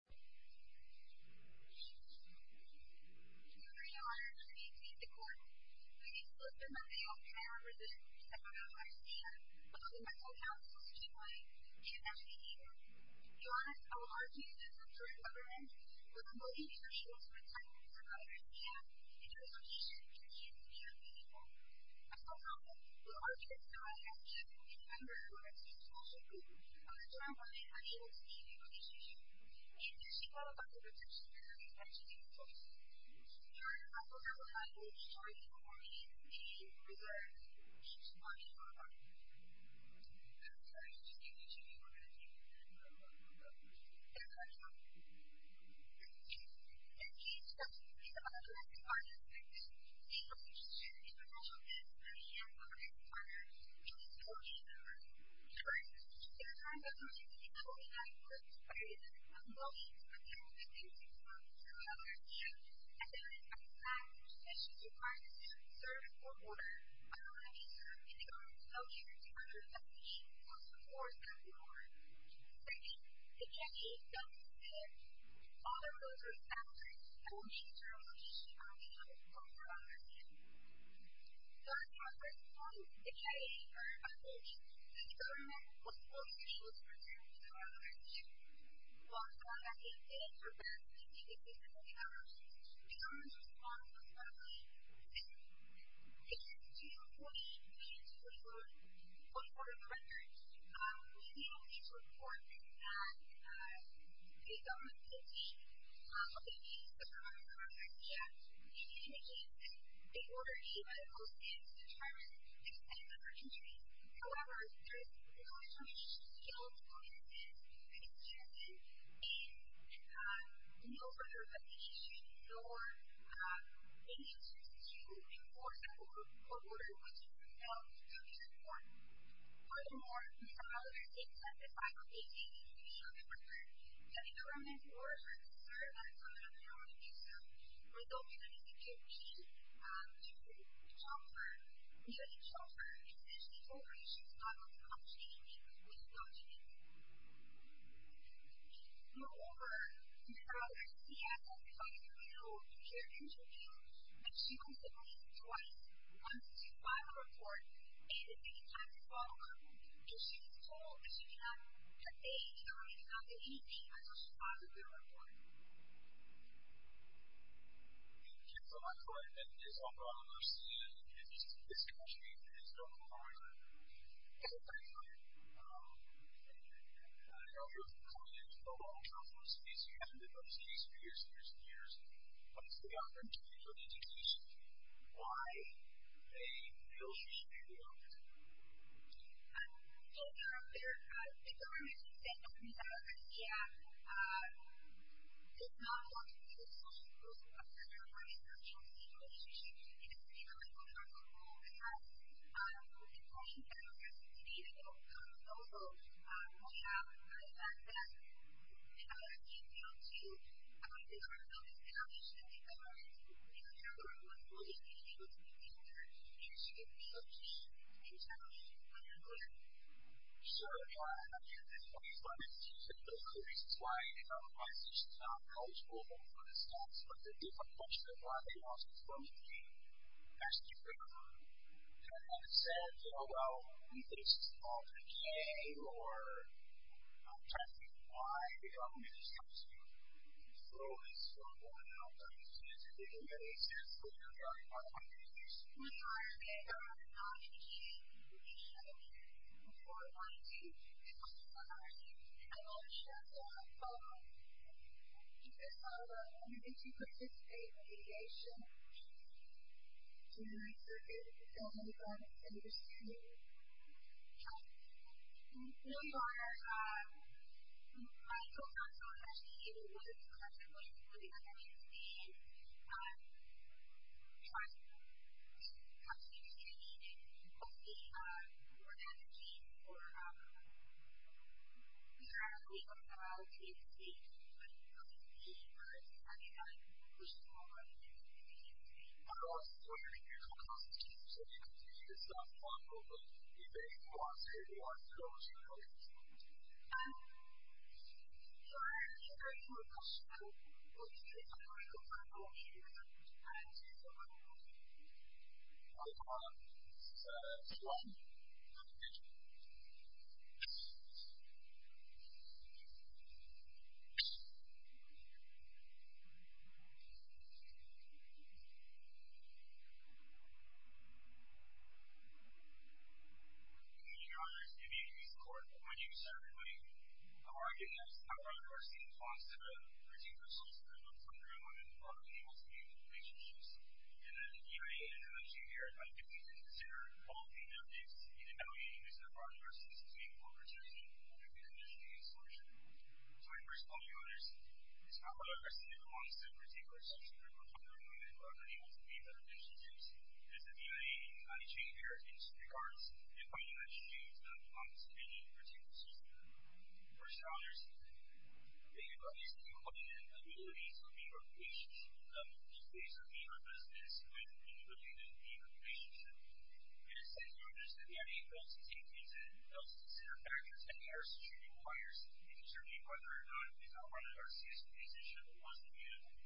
I'm going to read a letter to you to meet the court. We need to lift the money off of our residents that live outside of Indiana, but the mental health solution we need is actually here. We want to urge you to support a government with a motive that ensures the retirement of others in Indiana, in terms of ensuring the future of the Indian people. I still have it. We'll urge you to go ahead and do it. Remember, we're a state-sponsored group, and we're trying to find a way to make a difference in your community. We need to see how the government is actually doing and how it's doing for us. We are your unforgivable crime. We need to show you how we need to be prepared. We need to monitor our crime. I'm sorry, I just need you to be more than a team. We're going to do it. We're going to do it. And we expect you to be the best-working artists in the nation. We hope you share your professional vision with your young artists The government was forced to choose to return to our country. While trying to advance the independence of the Indiana people, the government's response was lovely. It has a two-fold push. It has a two-fold report of the records. The Indiana people's report and the government's position of the Indiana people's government are very different. We need to change this big order. The Indiana people's stance determines the status of our country. However, there's a lot of issues to deal with in the United States. We need to change it. And we also have a reputation for being anxious to enforce a whole order which is a two-fold report. Furthermore, we have other things at the final stages to make sure that we're doing. I think the government's orders are concerned. I don't know how they are going to do so. I don't think they're going to give me the opportunity to talk to her. Even if she talks to me, she's not going to talk to me. She's not going to talk to me. Moreover, there are other things we have to do. I don't know if you've ever interviewed, but she once interviewed me twice. Once to file a report, and at the same time to follow up. If she gets told that she can't get paid, or it's not that easy, I know she filed a good report. Thank you so much for that. And it's all gone. I understand. It's catching me. It's gone. I'm sorry. Thank you. Thank you. Thank you. Thank you. I know you've come in a long time from the States. You haven't been back to the States for years and years and years. Let me take it off. I'm taking it to an interview. Why a bill should be adopted? I don't know. The government, as you said, does not want to see a social group of people who are in a social engagement relationship, you know, even like on our local website. The claims that were made a couple of months ago point out the fact that the government is challenged. The government, you know, the federal government was fully engaged with the campaigner, and she was being challenged. So, yeah, I mean, that's one of the reasons why, you know, my position is not knowledgeable about the stats, but there is a bunch of them. A lot of them are also fully engaged. As you said, you know, well, either this is all a game or I'm trying to figure out why the government is trying to throw this strong woman out. I mean, she hasn't been engaged. She hasn't been engaged. No, you are right. The government is not engaging with the campaigner. So, I wanted to ask you about that. I know that you also have a follow-up. You said follow-up. I mean, did you participate in the litigation? Did you run circuits? Did you sell any funds? Did you pursue any help? No, you are right. I told you I was not actually engaged with the campaigner. So, yes, I had been involved in the draft, but we were not engaged. I knew I was. I would like to defer to the National Academies for a few minutes. I know it's a little bit of a long speech, but I will try to keep it short. I'll call on Mr. Suwan, if that's okay with you. Good evening, Your Honor. Good evening, Mr. Court. My name is Eric Lee. I'm arguing as to how far the court seems to want to reduce the results of the Montgomery Women's Law in the multi-agent relationship system. In an EIA intervention here, I think we need to consider all of the evidence in evaluating this as far as versus between corporate jurisdiction and the industry's solution. So, I first call on you, Your Honor, as to how the precedent belongs to the particular section of the Montgomery Women's Law in the multi-agent relationship system, as the EIA intervention here in regards to the point you mentioned, James, that belongs to any routine decision. First, Your Honor, I think it's obvious that you're looking at an ability to be more patient. Just basically, your business with the ability to be more patient. I just want you to understand that EIA fails to take into account the factors that the jurisdiction requires in determining whether or not we've outrun an RCS decision that wasn't meaningful.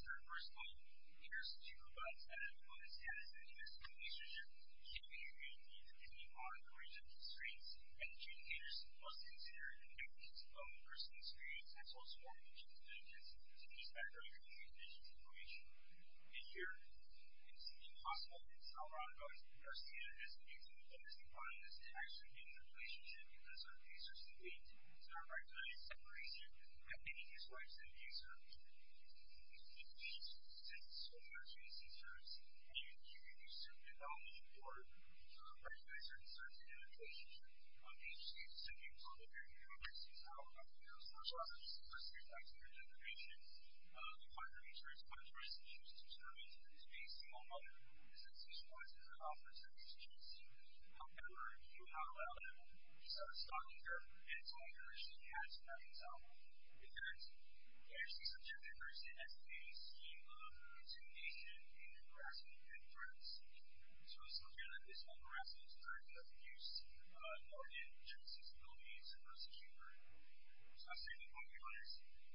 So, first of all, the jurisdiction provides a status that in this relationship should be able to meet any monitoring constraints and indicators must be considered in the context of a personal experience as well as a form of administrative agency to respect regulatory conditions and information. And here, it's impossible, and it's not a lot of evidence, that RCS doesn't meet and the interesting part of this is actually in the relationship that certain cases are seen to start by doing a separation that maybe disrupts the case or impedes the case since so much agency serves and you reduce development or regulates certain cases in the relationship of the agency to be able to monitor how RCS is out. So, for example, in this first case that I just mentioned, the point of interest by the jurisdiction is determined is based on what the decision was in the conference that the jurisdiction helped them learn through how loud and stocky and tight the jurisdiction had in that example because the agency's objective versus the SBA scheme of intimidation and harassment and threats. So, it's not clear that this type of harassment is going to reduce the audience's sensibilities versus humor. So, I'll say the following on your screen.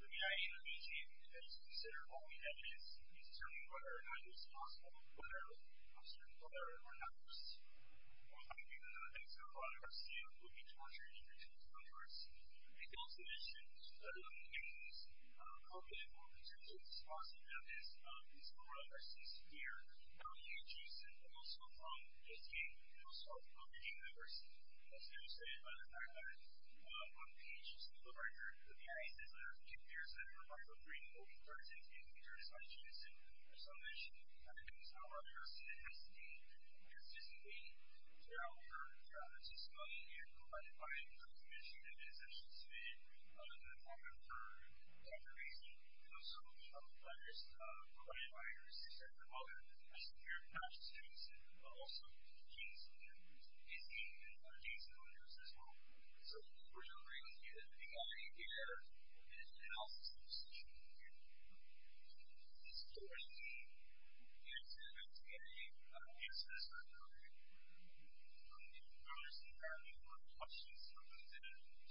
The BIA and the BG as you consider all the evidence is determining whether or not it is possible whether certain whether or not worse. I think that an example of RCS would be torture in the jurisdiction of course. I can also mention that in the case of COVID in terms of the possibility of this type of harassment of course there are several other instances here where we can choose and also just gain and also obtain diversity. That's demonstrated by the fact that on pages of the record the BIA says there are two years that are marked with green or green cards in the jurisdiction and so I'll mention that because however it has to be consistently throughout the jurisdiction and provided by the it is actually stated in the document for categorization so so there's provided by the jurisdiction as well so we're remembering here that the BIA here is the health substitution here so historically the anti-semitic anti-semitism in in Burleson family one of the questions from those individuals who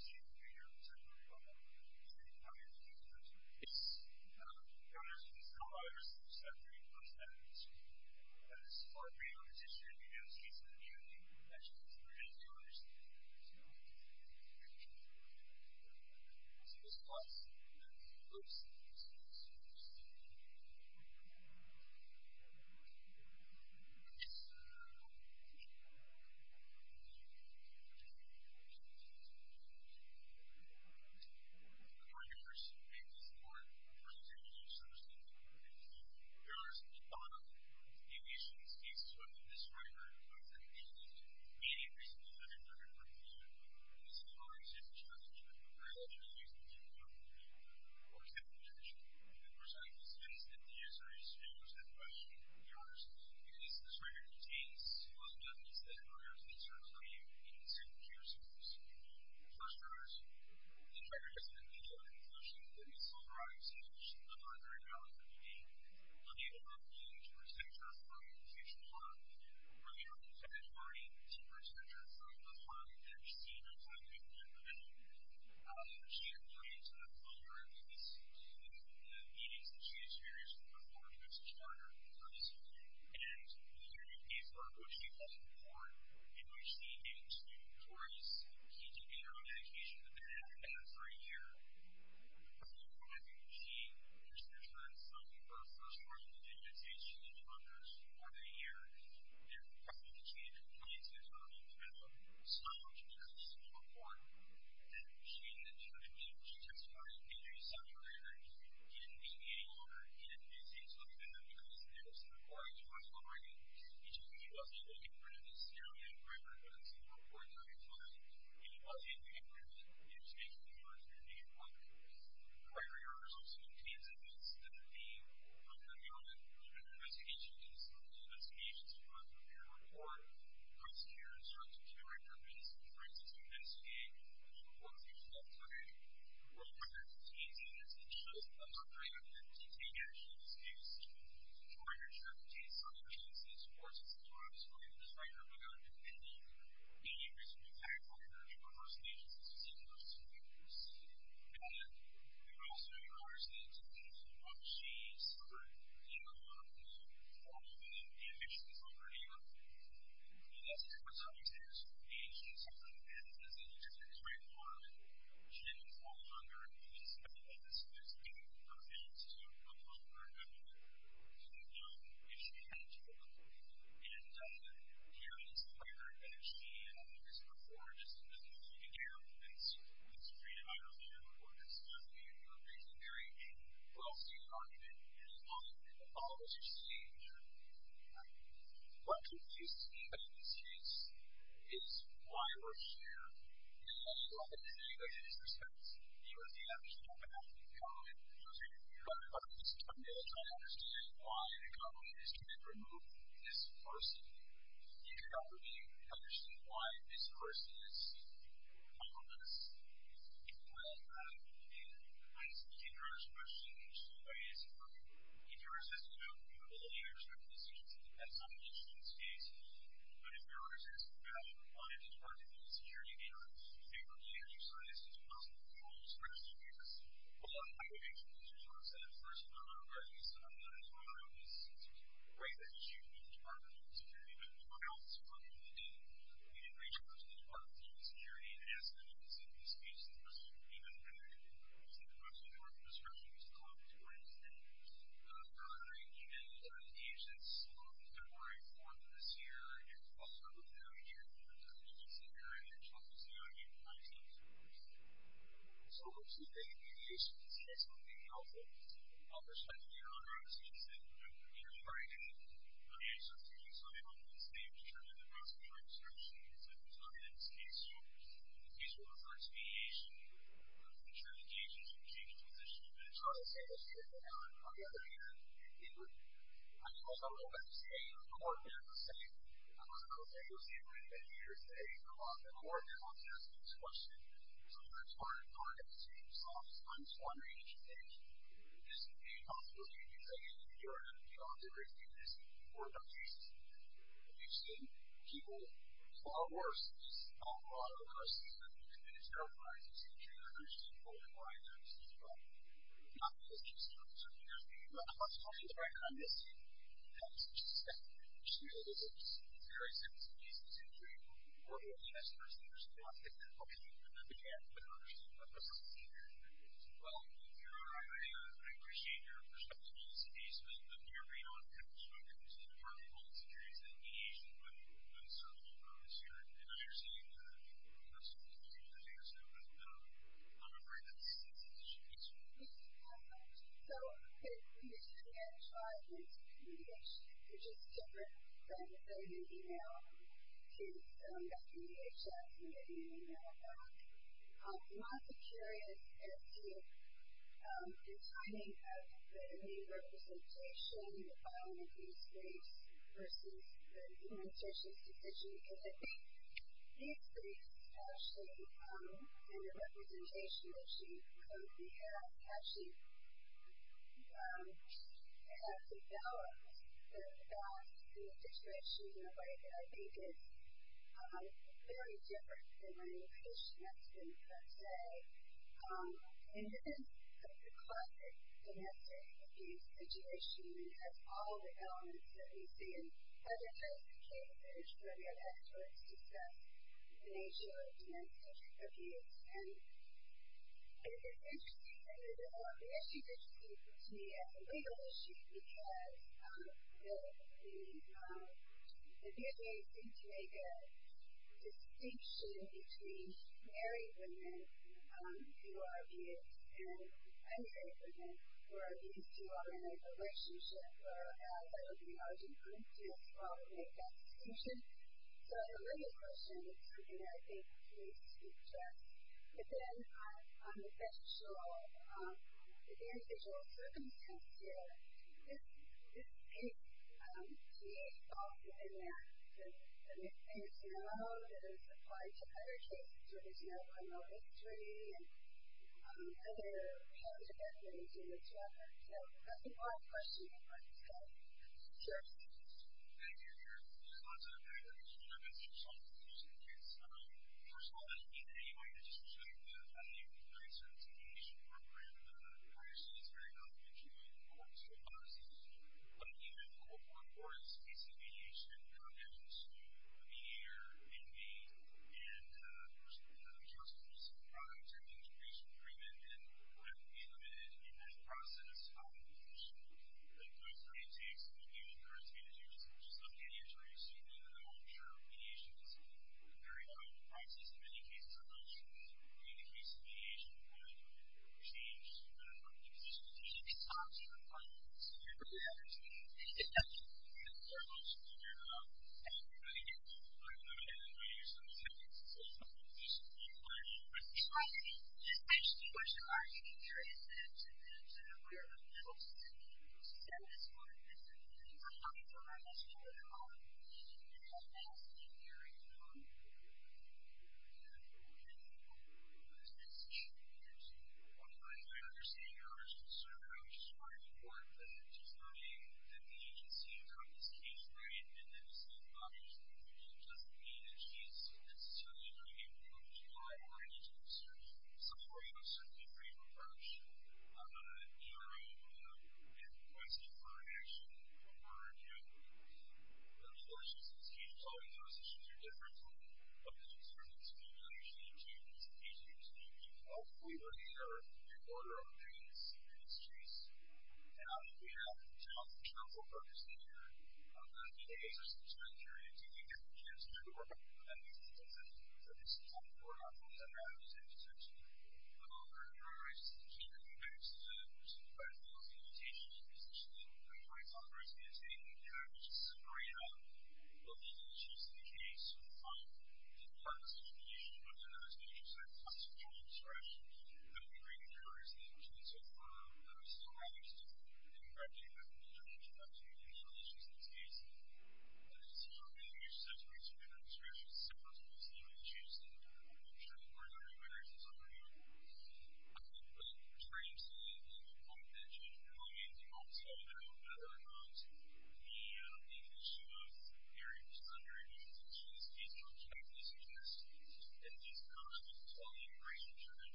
came